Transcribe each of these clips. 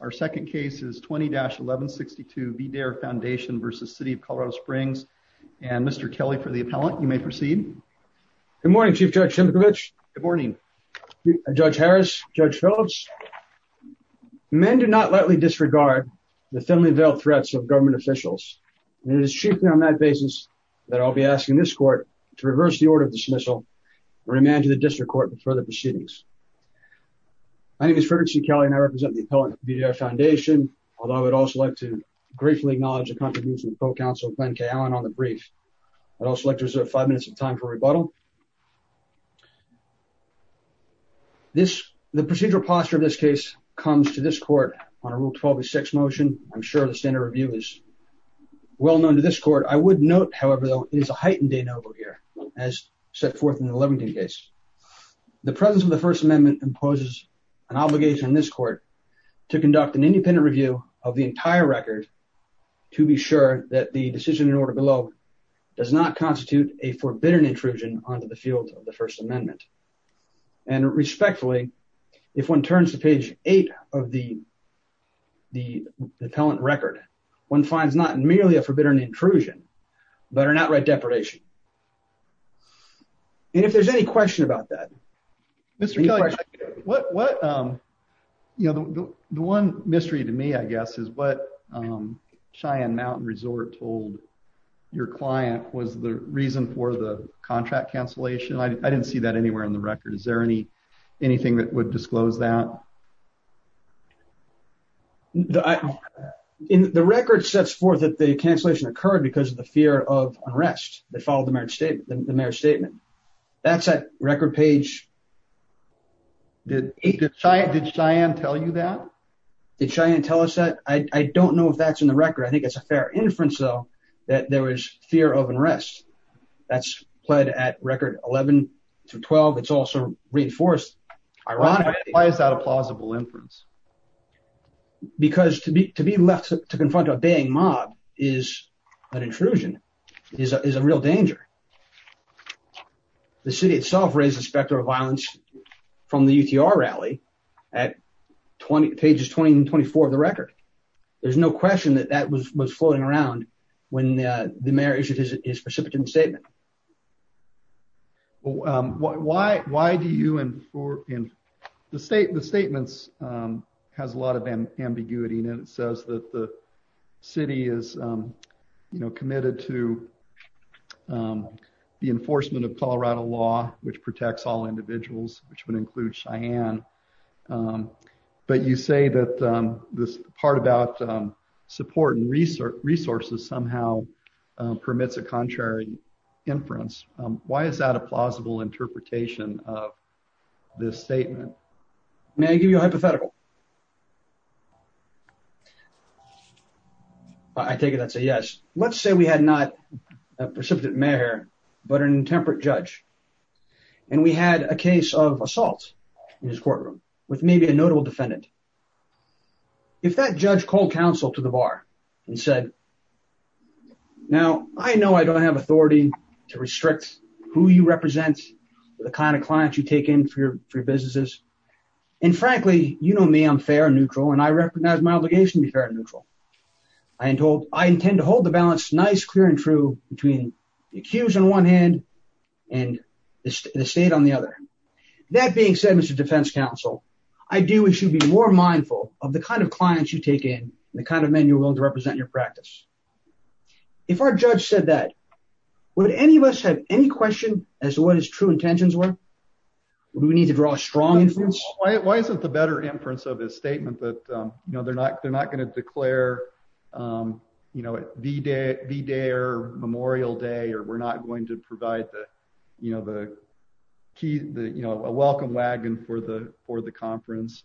Our second case is 20-1162 VDARE Foundation v. City of Colorado Springs and Mr. Kelly for the appellant, you may proceed. Good morning Chief Judge Simcovich. Good morning. Judge Harris, Judge Phillips. Men do not lightly disregard the thinly veiled threats of government officials and it is chiefly on that basis that I'll be asking this court to reverse the order of dismissal and remand to the district court before the proceedings. My name is Frederick C. Kelly and I represent the appellant of the VDARE Foundation, although I would also like to gratefully acknowledge the contributions of the co-counsel Glenn K. Allen on the brief. I'd also like to reserve five minutes of time for rebuttal. The procedural posture of this case comes to this court on a Rule 12-6 motion. I'm sure the standard review is well known to this court. I would note, however, though, it is a heightened de novo here as set forth in the Levington case. The presence of the First Amendment imposes an obligation on this court to conduct an independent review of the entire record to be sure that the decision in order below does not constitute a forbidden intrusion onto the field of the First Amendment. And respectfully, if one turns to page eight of the appellant record, one finds not merely a forbidden intrusion, but an outright depredation. And if there's any question about that. Mr. Kelly, the one mystery to me, I guess, is what Cheyenne Mountain Resort told your client was the reason for the contract cancellation. I didn't see that anywhere in the record. Is there anything that would disclose that? The record sets forth that the cancellation occurred because of the fear of unrest. They followed the marriage statement. That's at record page... Did Cheyenne tell you that? Did Cheyenne tell us that? I don't know if that's in the record. I think it's a fair inference, though, that there was fear of unrest. That's pled at record 11-12. It's also reinforced ironically. Why is that a plausible inference? Because to be left to confront a bang mob is an intrusion, is a real danger. The city itself raised the specter of violence from the UTR rally at pages 20 and 24 of the record. There's no question that that was floating around when the mayor issued his precipitant statement. Well, why do you... The statement has a lot of ambiguity. It says that the city is committed to the enforcement of Colorado law, which protects all individuals, which would include Cheyenne. But you say that this part about support and resources somehow permits a contrary inference. Why is that a plausible interpretation of this statement? May I give you a hypothetical? I take it that's a yes. Let's say we had not a precipitant mayor, but an intemperate judge. We had a case of assault. In his courtroom with maybe a notable defendant. If that judge called counsel to the bar and said, now, I know I don't have authority to restrict who you represent, the kind of clients you take in for your businesses. And frankly, you know me, I'm fair and neutral, and I recognize my obligation to be fair and neutral. I intend to hold the balance nice, clear, and true between the accused on one hand and the state on the other. That being said, Mr. Defense Counsel, I do wish you'd be more mindful of the kind of clients you take in, the kind of men you're willing to represent in your practice. If our judge said that, would any of us have any question as to what his true intentions were? Would we need to draw a strong inference? Why isn't the better inference of this statement that they're not going to declare a V-Day or Memorial Day, or we're not going to provide a welcome wagon for the conference.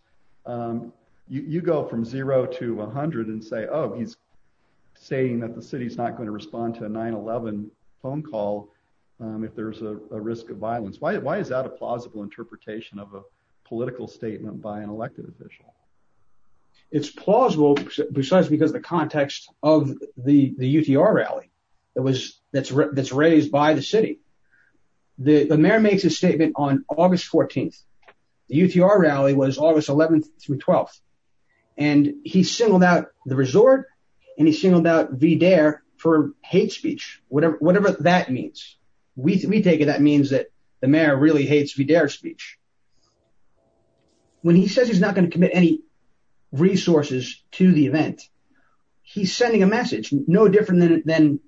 You go from zero to 100 and say, oh, he's saying that the city is not going to respond to a 9-11 phone call if there's a risk of violence. Why is that a plausible interpretation of a political statement by an elected official? It's plausible precisely because of the context of the UTR rally that's raised by the city. The mayor makes a statement on August 14th. The UTR rally was August 11th through 12th, and he singled out the resort, and he singled out V-Day for hate speech, whatever that means. We take it that means that the mayor really hates V-Day's speech. When he says he's not going to commit any resources to the event, he's sending a message no different than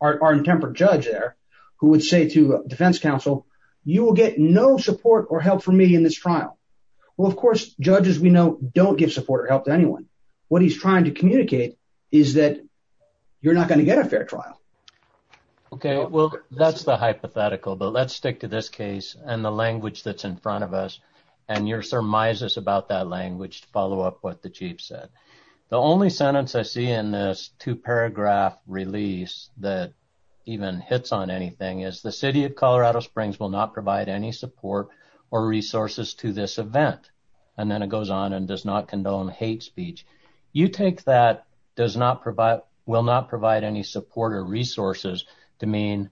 our intemperate judge there, who would say to defense counsel, you will get no support or help from me in this trial. Well, of course, judges we know don't give support or help to anyone. What he's trying to communicate is that you're not going to get a fair trial. Okay, well, that's the hypothetical, but let's stick to this case and the language that's in front of us, and your surmises about that language to follow up what the chief said. The only sentence I see in this two-paragraph release that even hits on anything is, the city of Colorado Springs will not provide any support or resources to this event, and then it goes on and does not condone hate speech. You take that does not provide, will not provide any support or resources to mean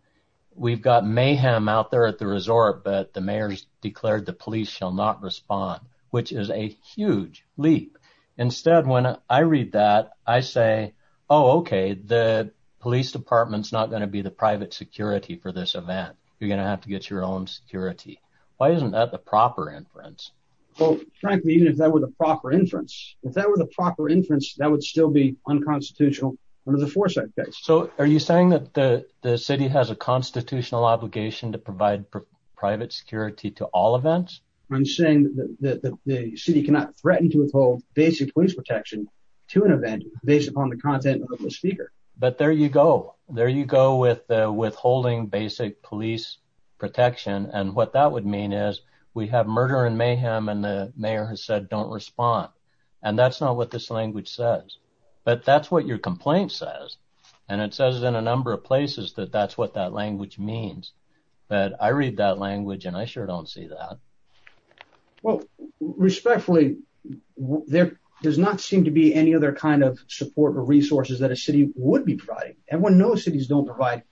we've got mayhem out there at the resort, but the mayor's declared the police shall not respond, which is a huge leap. Instead, when I read that, I say, oh, okay, the police department's not going to be the private security for this event. You're going to have to get your own security. Why isn't that the proper inference? Well, frankly, even if that were the proper inference, if that were the proper inference, that would still be unconstitutional under the Forsyth case. Are you saying that the city has a constitutional obligation to provide private security to all events? I'm saying that the city cannot threaten to withhold basic police protection to an event based upon the content of the speaker. But there you go. There you go with withholding basic police protection, and what that would mean is we have murder and mayhem, and the mayor has said don't respond, and that's not what this language says, but that's what your complaint says, and it says in a number of places that that's what that language means, but I read that language, and I sure don't see that. Well, respectfully, there does not seem to be any other kind of support or resources that a city would be providing. Everyone knows cities don't provide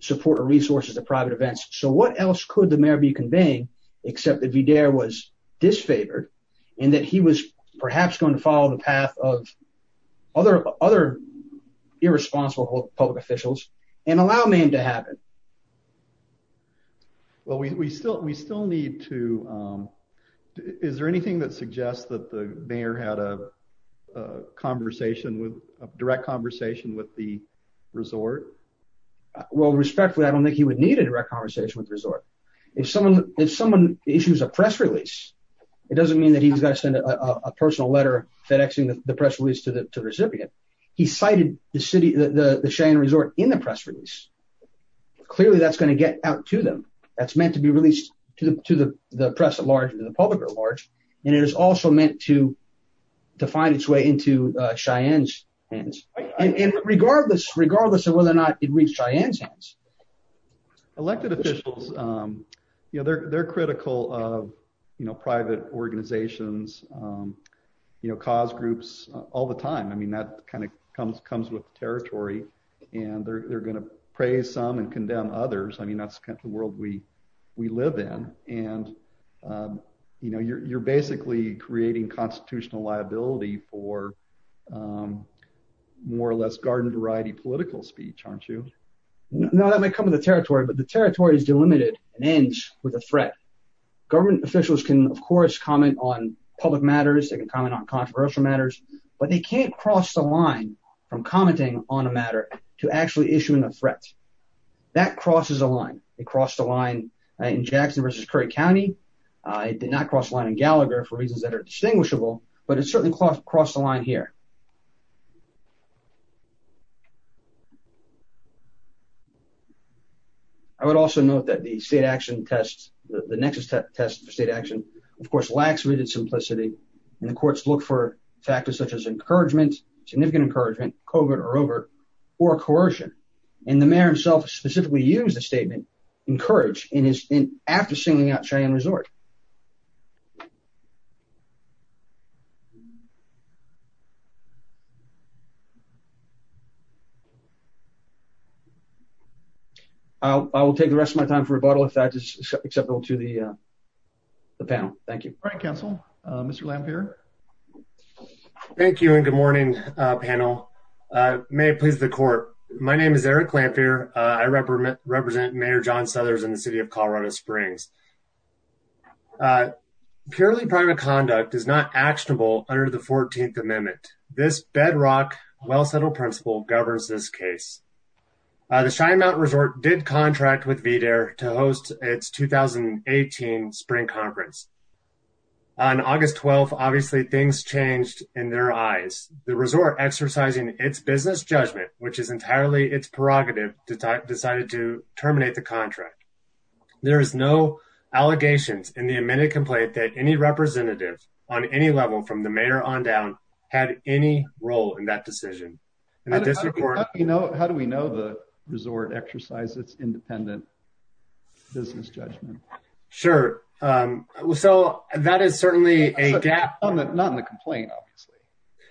support or resources to private events, so what else could the mayor be conveying, except that Vidaire was disfavored, and that he was perhaps going to follow the path of other irresponsible public officials and allow mayhem to happen? Well, we still need to, is there anything that suggests that the mayor had a conversation with, a direct conversation with the resort? Well, respectfully, I don't think he would need a direct conversation with the resort. If someone issues a press release, it doesn't mean that he's got to send a personal letter fidexing the press release to the recipient. He cited the city, the Cheyenne resort in the press release. Clearly, that's going to get out to them. That's meant to be released to the press at large, to the public at large, and it is also meant to find its way into Cheyenne's hands, regardless of whether or not it reached Cheyenne's hands. Elected officials, they're critical of private organizations, cause groups all the time. I mean, that kind of comes with territory, and they're going to praise some and condemn others. I mean, that's the world we live in, and you're basically creating constitutional liability for more or less garden variety political speech, aren't you? No, that might come with the territory, but the territory is delimited and ends with a threat. Government officials can, of course, comment on public matters. They can comment on controversial matters, but they can't cross the line from commenting on a matter to actually issuing a threat. That crosses a line. It crossed the line in Jackson versus Curry County. It did not cross the line in Gallagher for reasons that are distinguishable, but it certainly crossed the line here. I would also note that the state action test, the nexus test for state action, of course, lacks rooted simplicity, and the courts look for factors such as encouragement, significant encouragement, covert or overt, or coercion. And the mayor himself specifically used the statement, encouraged after singing out Cheyenne Resort. I will take the rest of my time for rebuttal if that is acceptable to the panel. Thank you. All right, counsel. Mr. Lampere. Thank you, and good morning, panel. May it please the court. My name is Eric Lampere. I represent Mayor John Southers in the city of Colorado Springs. Purely private conduct is not actionable under the 14th Amendment. This bedrock, well-settled principle governs this case. The Cheyenne Mountain Resort did contract with VDARE to host its 2018 spring conference. On August 12th, obviously things changed in their eyes. The resort exercising its business judgment, which is entirely its prerogative, decided to terminate the contract. There is no allegations in the amended complaint that any representative on any level from the mayor on down had any role in that decision. How do we know the resort exercised its independent business judgment? Sure. So that is certainly a gap. Not in the complaint, obviously.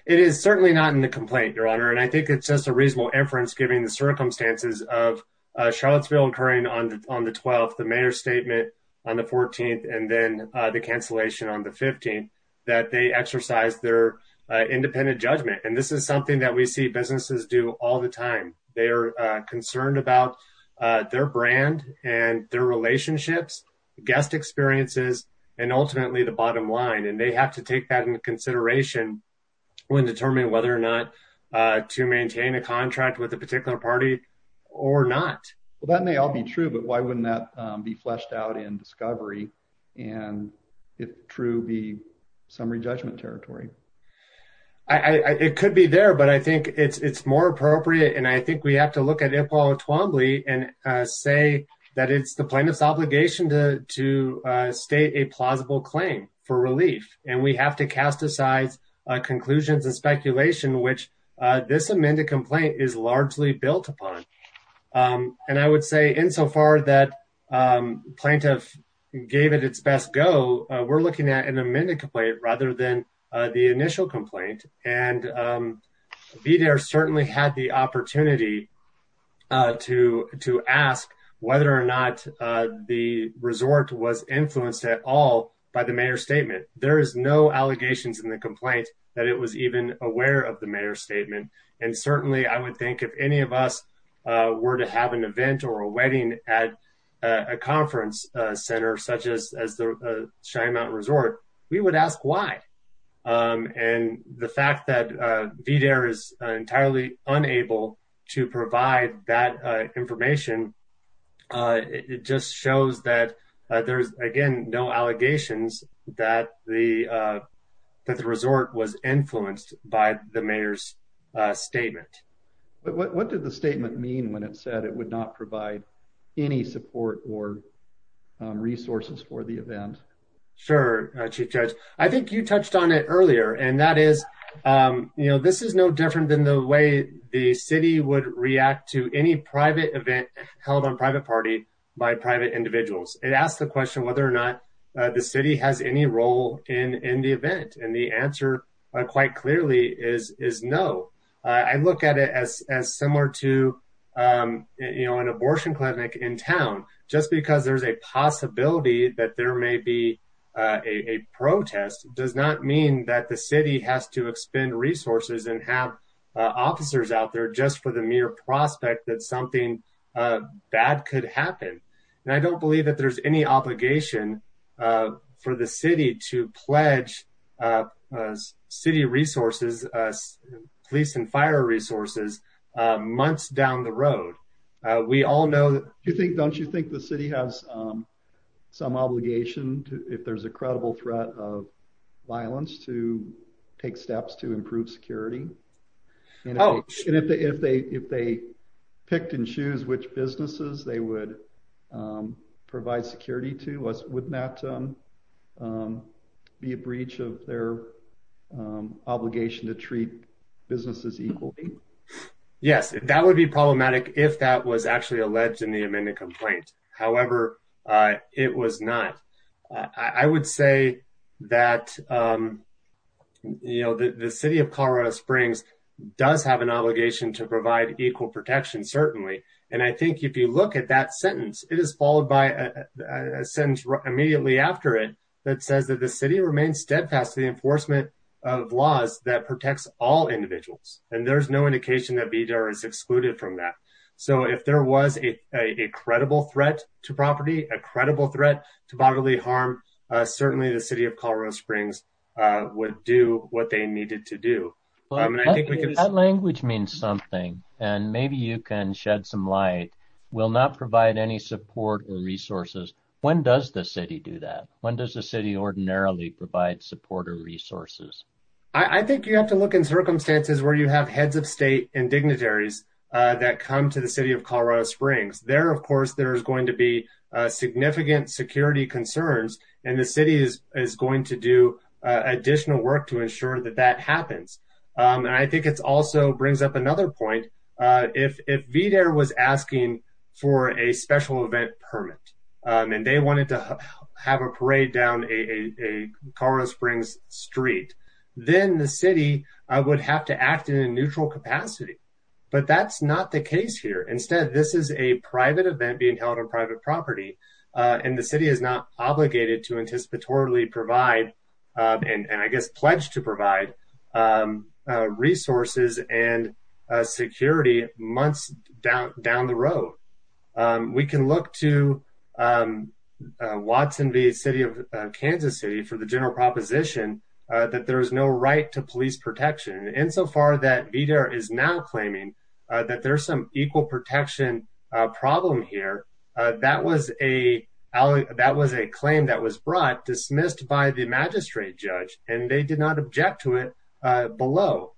It is certainly not in the complaint, Your Honor. And I think it's just a reasonable inference, given the circumstances of Charlottesville occurring on the 12th, the mayor's statement on the 14th, and then the cancellation on the 15th, that they exercised their independent judgment. And this is something that we see businesses do all the time. They are concerned about their brand and their relationships, guest experiences, and ultimately the bottom line. And they have to take that into consideration when determining whether or not to maintain a contract with a particular party or not. Well, that may all be true, but why wouldn't that be fleshed out in discovery? And if true, be some re-judgment territory? It could be there, but I think it's more appropriate. And I think we have to look at it at all Twombly and say that it's the plaintiff's obligation to state a plausible claim for relief. And we have to cast aside conclusions and speculation, which this amended complaint is largely built upon. And I would say insofar that plaintiff gave it its best go, we're looking at an amended complaint rather than the initial complaint. And VDARE certainly had the opportunity to ask whether or not the resort was influenced at all by the mayor's statement. There is no allegations in the complaint that it was even aware of the mayor's statement. And certainly I would think if any of us were to have an event or a wedding at a conference center such as the Cheyenne Mountain Resort, we would ask why. And the fact that VDARE is entirely unable to provide that information, it just shows that there's, again, no allegations that the resort was influenced by the mayor's statement. But what did the statement mean when it said it would not provide any support or resources for the event? Sure, Chief Judge. I think you touched on it earlier. And that is, you know, this is no different than the way the city would react to any private event held on private party by private individuals. It asks the question whether or not the city has any role in the event. And the answer quite clearly is no. I look at it as similar to, you know, an abortion clinic in town. Just because there's a possibility that there may be a protest does not mean that the city has to expend resources and have officers out there just for the mere prospect that something bad could happen. And I don't believe that there's any obligation for the city to pledge city resources, police and fire resources, months down the road. We all know that... Don't you think the city has some obligation if there's a credible threat of violence to take steps to improve security? And if they picked and choose which businesses they would provide security to, wouldn't that be a breach of their obligation to treat businesses equally? Yes, that would be problematic if that was actually alleged in the amended complaint. However, it was not. I would say that, you know, the city of Colorado Springs does have an obligation to provide equal protection, certainly. And I think if you look at that sentence, it is followed by a sentence immediately after it that says that the city remains steadfast to the enforcement of laws that protects all individuals. And there's no indication that BDAR is excluded from that. So if there was a credible threat to property, a credible threat to bodily harm, certainly the city of Colorado Springs would do what they needed to do. That language means something. And maybe you can shed some light. We'll not provide any support or resources. When does the city do that? When does the city ordinarily provide support or resources? I think you have to look in circumstances where you have heads of state and dignitaries that come to the city of Colorado Springs. There, of course, there's going to be significant security concerns and the city is going to do additional work to ensure that that happens. And I think it's also brings up another point. If BDAR was asking for a special event permit and they wanted to have a parade down a Colorado Springs street, then the city would have to act in a neutral capacity. But that's not the case here. Instead, this is a private event being held on private property and the city is not obligated to anticipatorily provide and I guess pledge to provide resources and security months down the road. We can look to Watson v. City of Kansas City for the general proposition that there is no right to police protection. Insofar that BDAR is now claiming that there's some equal protection problem here, that was a claim that was brought, dismissed by the magistrate judge, and they did not object to it below.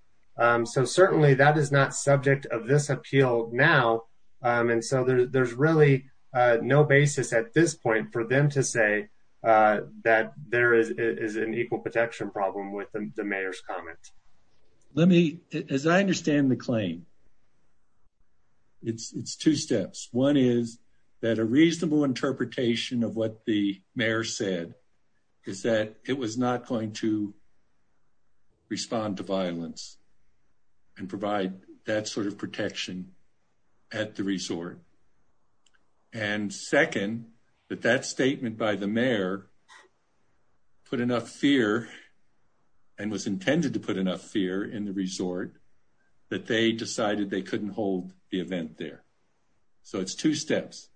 So certainly that is not subject of this appeal now. And so there's really no basis at this point for them to say that there is an equal protection problem with the mayor's comment. Let me, as I understand the claim, it's two steps. One is that a reasonable interpretation of what the mayor said is that it was not going to respond to violence and provide that sort of protection at the resort. And second, that that statement by the mayor put enough fear and was intended to put enough fear in the resort that they decided they couldn't hold the event there. So it's two steps,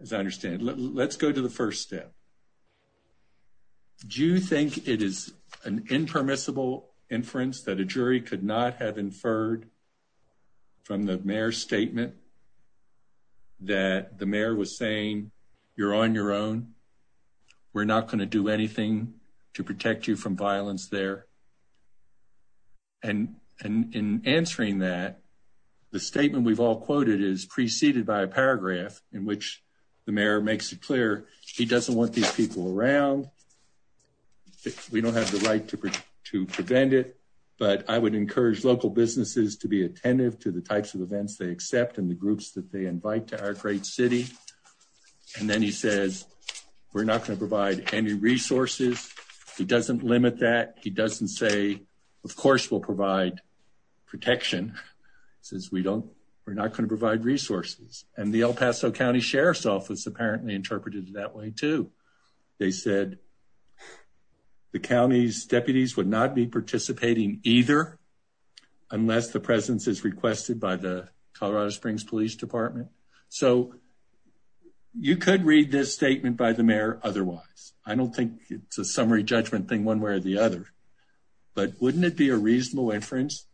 as I understand. Let's go to the first step. Do you think it is an impermissible inference that the mayor was saying, you're on your own, we're not going to do anything to protect you from violence there? And in answering that, the statement we've all quoted is preceded by a paragraph in which the mayor makes it clear he doesn't want these people around. We don't have the right to prevent it, but I would encourage local businesses to be attentive to the types of events they accept and the groups that they invite to our great city. And then he says, we're not going to provide any resources. He doesn't limit that. He doesn't say, of course, we'll provide protection. He says, we're not going to provide resources. And the El Paso County Sheriff's Office apparently interpreted it that way too. They said, the county's deputies would not be participating either unless the presence is requested by the Colorado Springs Police Department. So you could read this statement by the mayor otherwise. I don't think it's a summary judgment thing one way or the other, but wouldn't it be a reasonable inference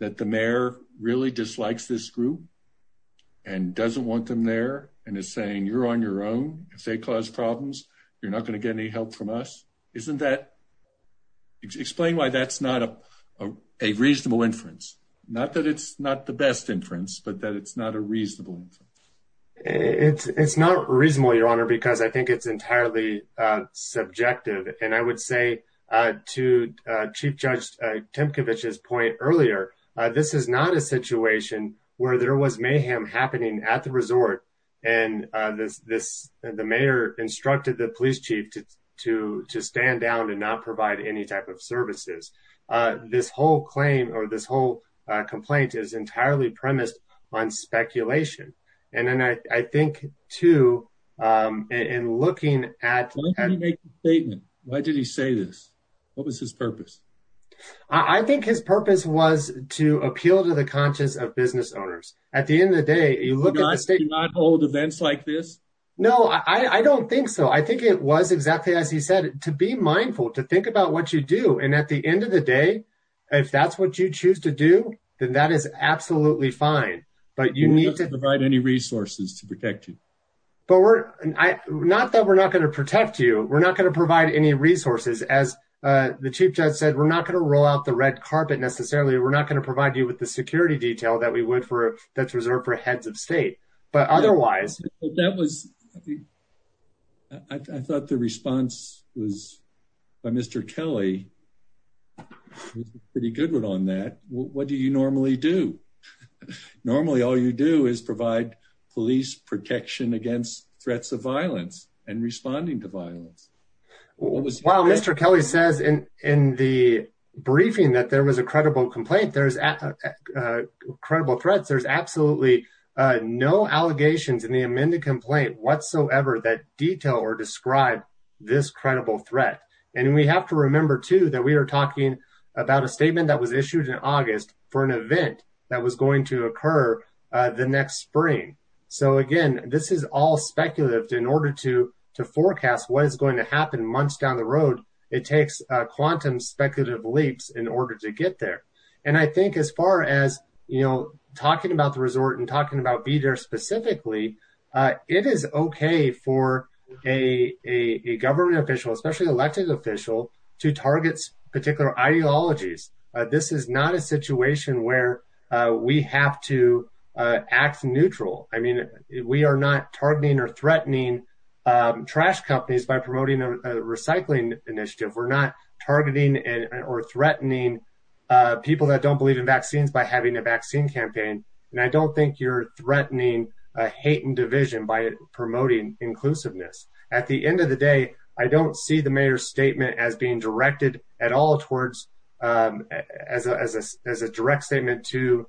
that the mayor really dislikes this group and doesn't want them there and is saying, you're on your own, if they cause problems, you're not going to get any help from us. Isn't that... Explain why that's not a reasonable inference. Not that it's not the best inference, but that it's not a reasonable inference. It's not reasonable, Your Honor, because I think it's entirely subjective. And I would say to Chief Judge Temkevich's point earlier, this is not a situation where there was mayhem happening at the resort and the mayor instructed the police chief to stand down and not provide any type of services. This whole claim or this whole complaint is entirely premised on speculation. And then I think too, in looking at... Why did he make the statement? Why did he say this? What was his purpose? I think his purpose was to appeal to the conscience of business owners. At the end of the day, you cannot hold events like this. No, I don't think so. I think it was exactly as he said, to be mindful, to think about what you do. And at the end of the day, if that's what you choose to do, then that is absolutely fine. But you need to... We're not going to provide any resources to protect you. But we're... Not that we're not going to protect you. We're not going to provide any resources. As the Chief Judge said, we're not going to roll out the red carpet necessarily. We're not going to provide you with the security detail that's reserved for heads of state. But otherwise... I thought the response was by Mr. Kelly, pretty good on that. What do you normally do? Normally, all you do is provide police protection against threats of violence and responding to violence. While Mr. Kelly says in the briefing that there was a credible complaint, there's credible threats, there's absolutely no allegations in the amended complaint whatsoever that detail or describe this credible threat. And we have to remember too, that we are talking about a statement that was issued in August for an event that was going to occur the next spring. So again, this is all speculative. In order to forecast what is going to happen months down the road, it takes quantum speculative leaps in order to get there. And I think as far as talking about the resort and talking about be there specifically, it is okay for a government official, especially elected official, to target particular ideologies. This is not a situation where we have to act neutral. I mean, we are not targeting or threatening trash companies by promoting a recycling initiative. We're not targeting or threatening people that don't believe in vaccines by having a vaccine campaign. And I don't think you're threatening a hate and division by promoting inclusiveness. At the end of the day, I don't see the mayor's statement as being directed at all towards, as a direct statement to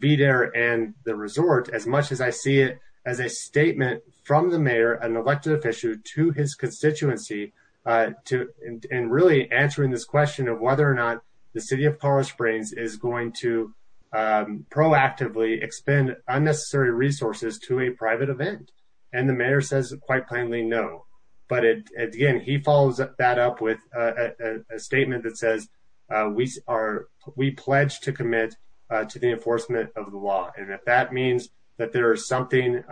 be there and the resort as much as I see it as a statement from the mayor, an elected official to his constituency, and really answering this question of whether or not the city of Colorado Springs is going to proactively expend unnecessary resources to a private event. And the mayor says quite plainly, no. But again, he follows that up with a statement that says, we pledge to commit to the enforcement of the law. And if that means that there is something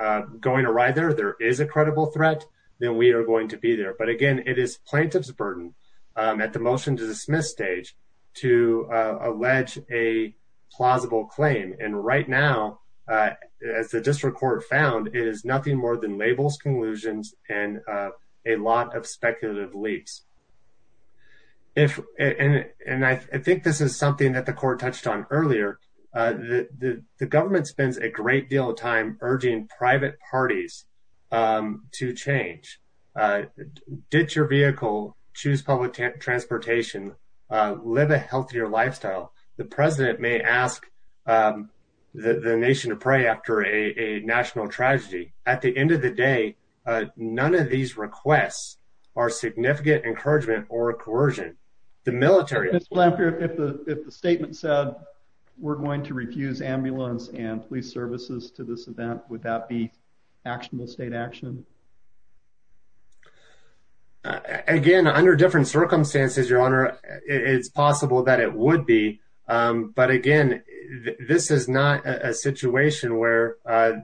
going to ride there, there is a credible threat, then we are going to be there. But again, it is plaintiff's burden at the motion to dismiss stage to allege a plausible claim. And right now, as the district court found, it is nothing more than labels, conclusions, and a lot of speculative leaps. And I think this is something that the court touched on earlier. The government spends a great deal of time urging private parties to change. Ditch your vehicle, choose public transportation, live a healthier lifestyle. The president may ask the nation to pray after a national tragedy. At the end of the day, none of these requests are significant encouragement or coercion. The military- Mr. Blanfield, if the statement said, we're going to refuse ambulance and police services to this event, would that be actionable state action? Again, under different circumstances, your honor, it's possible that it would be. But again, this is not a situation where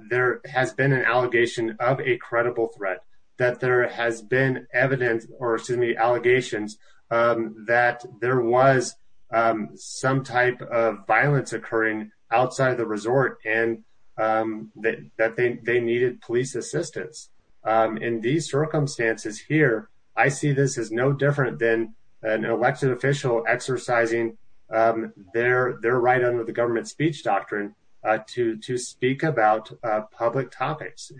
there has been an allegation of a credible threat, that there has been evidence, or excuse me, allegations that there was some type of violence occurring outside of the resort and that they needed police assistance. In these circumstances here, I see this as no different than an elected official exercising their right under the government speech doctrine to speak about public topics.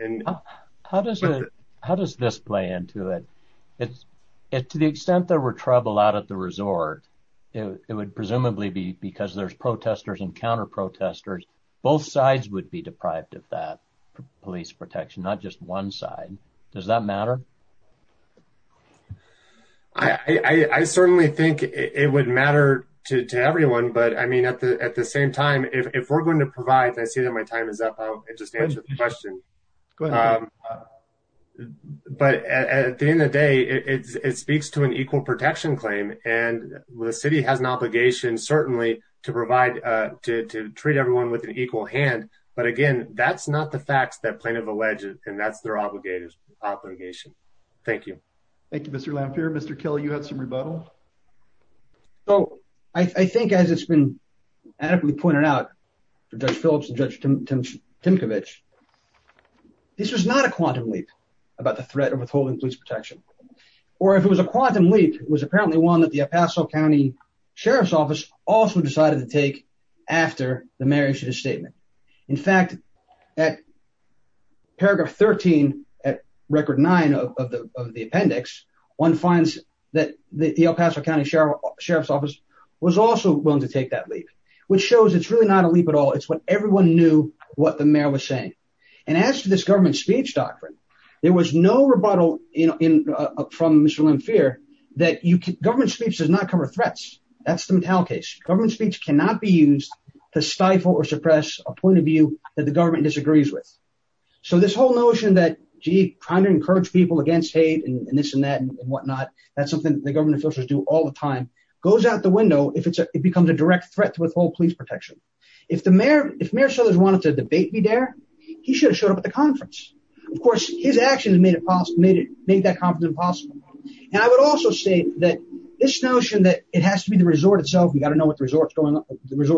How does this play into it? To the extent there were trouble out at the resort, it would presumably be because there's protesters and counter protesters, both sides would be deprived of that police protection, not just one side. Does that matter? I certainly think it would matter to everyone. But I mean, at the same time, if we're going to provide, I see that my time is up, I'll just answer the question. But at the end of the day, it speaks to an equal protection claim. And the city has an obligation, certainly, to provide, to treat everyone with an equal hand. But again, that's not the facts that plaintiff alleges, and that's their obligation. Thank you. Thank you, Mr. Lamphere. Mr. Kelly, you had some rebuttal. So I think as it's been adequately pointed out for Judge Phillips and Judge Timkovich, this was not a quantum leap about the threat of withholding police protection. Or if it was a quantum leap, it was apparently one that the El Paso County Sheriff's Office also decided to take after the mayor issued a statement. In fact, at paragraph 13, at record nine of the appendix, one finds that the El Paso County Sheriff's Office was also willing to take that leap, which shows it's really not a leap at all. It's what everyone knew what the mayor was saying. And as to this government speech doctrine, there was no rebuttal from Mr. Lamphere that government speech does not cover threats. That's the Mattel case. Government speech cannot be used to stifle or suppress a point of view that the government disagrees with. So this whole notion that, gee, trying to encourage people against hate and this and that and whatnot, that's something that the government officials do all the time, goes out the window if it becomes a direct threat to withhold police protection. If Mayor Southers wanted the debate to be there, he should have showed up at the conference. Of course, his actions made that conference impossible. And I would also say that this notion that it has to be the resort itself, we gotta know what the resort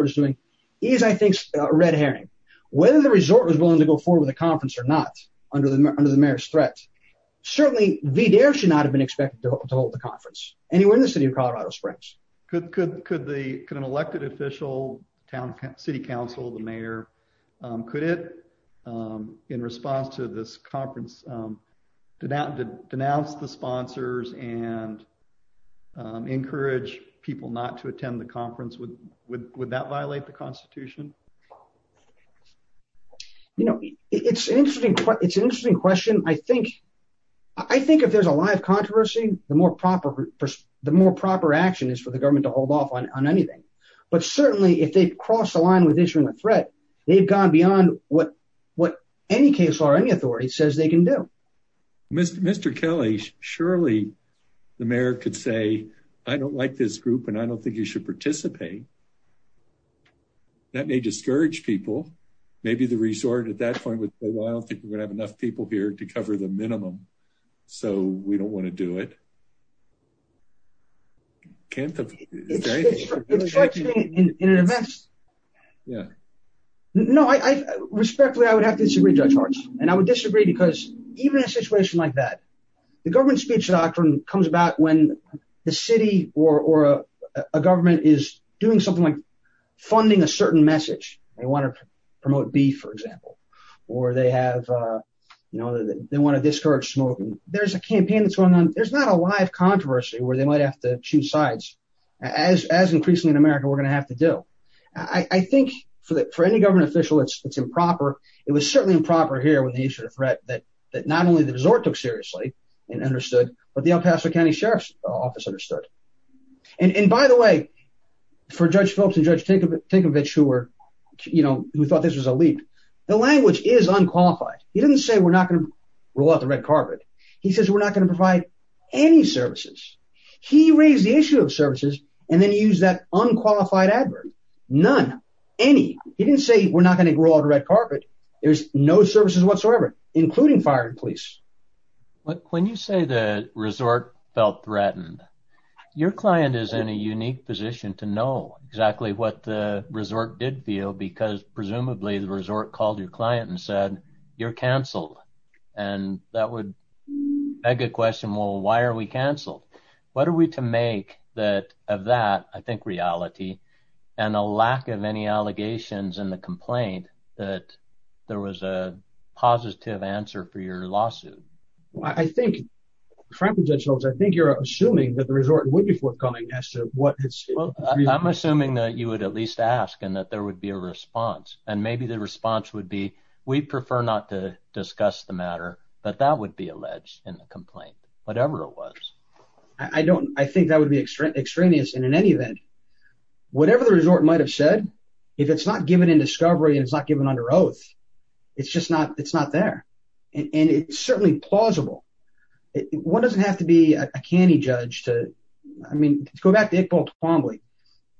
is doing, is, I think, a red herring. Whether the resort was willing to go forward with a conference or not under the mayor's threat, certainly VDARE should not have been expected to hold the conference anywhere in the city of Colorado Springs. Could an elected official, city council, the mayor, could it, in response to this conference, denounce the sponsors and encourage people not to attend the conference? Would that violate the Constitution? You know, it's an interesting question. I think if there's a lot of controversy, the more proper action is for the government to hold off on anything. But certainly, if they cross the line with issuing a threat, they've gone beyond what any case or any authority says they can do. Mr. Kelly, surely the mayor could say, I don't like this group and I don't think you should participate. That may discourage people. Maybe the resort at that point would say, well, I don't think we're gonna have enough people here Can't the, is there anything? It strikes me in an event. No, respectfully, I would have to disagree, Judge Hart. And I would disagree because even in a situation like that, the government speech doctrine comes about when the city or a government is doing something like funding a certain message. They wanna promote beef, for example, or they have, you know, they wanna discourage smoking. There's a campaign that's going on. There's not a live controversy where they might have to choose sides. As increasingly in America, we're gonna have to do. I think for any government official, it's improper. It was certainly improper here when they issued a threat that not only the resort took seriously and understood, but the El Paso County Sheriff's Office understood. And by the way, for Judge Phillips and Judge Tinkovich who thought this was a leap, the language is unqualified. He didn't say, we're not gonna roll out the red carpet. He says, we're not gonna provide any services. He raised the issue of services and then he used that unqualified adverb, none, any. He didn't say, we're not gonna roll out the red carpet. There's no services whatsoever, including firing police. But when you say the resort felt threatened, your client is in a unique position to know exactly what the resort did feel because presumably the resort called your client and said, you're canceled. And that would beg a question, why are we canceled? What are we to make that of that, I think reality and a lack of any allegations in the complaint that there was a positive answer for your lawsuit? I think, frankly Judge Phillips, I think you're assuming that the resort would be forthcoming as to what it's- I'm assuming that you would at least ask and that there would be a response. And maybe the response would be, we prefer not to discuss the matter, but that would be alleged in the complaint. Whatever it was. I don't, I think that would be extraneous. And in any event, whatever the resort might've said, if it's not given in discovery and it's not given under oath, it's just not, it's not there. And it's certainly plausible. One doesn't have to be a canny judge to, I mean, go back to Iqbal Twombly.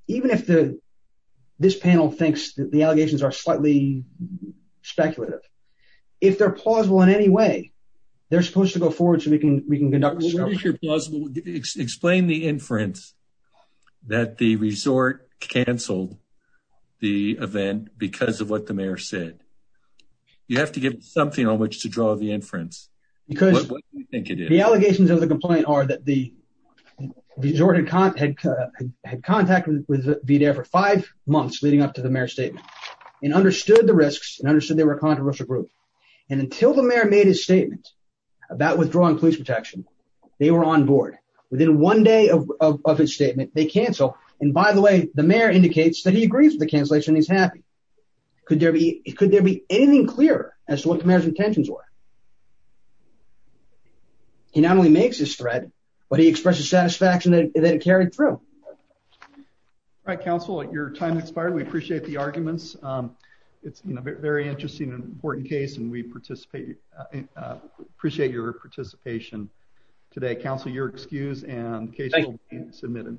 Even if this panel thinks that the allegations are slightly speculative, if they're plausible in any way, they're supposed to go forward so we can conduct discovery. What is your plausible- Explain the inference that the resort canceled the event because of what the mayor said. You have to give something on which to draw the inference. Because- What do you think it is? The allegations of the complaint are that the resort had contact with VDA for five months leading up to the mayor's statement and understood the risks and understood they were a controversial group. And until the mayor made his statement about withdrawing police protection, they were on board. Within one day of his statement, they cancel. And by the way, the mayor indicates that he agrees with the cancellation. He's happy. Could there be anything clearer as to what the mayor's intentions were? He not only makes his threat, but he expresses satisfaction that it carried through. All right, counsel, your time expired. We appreciate the arguments. It's a very interesting and important case and we appreciate your participation today. Counsel, you're excused and the case will be submitted.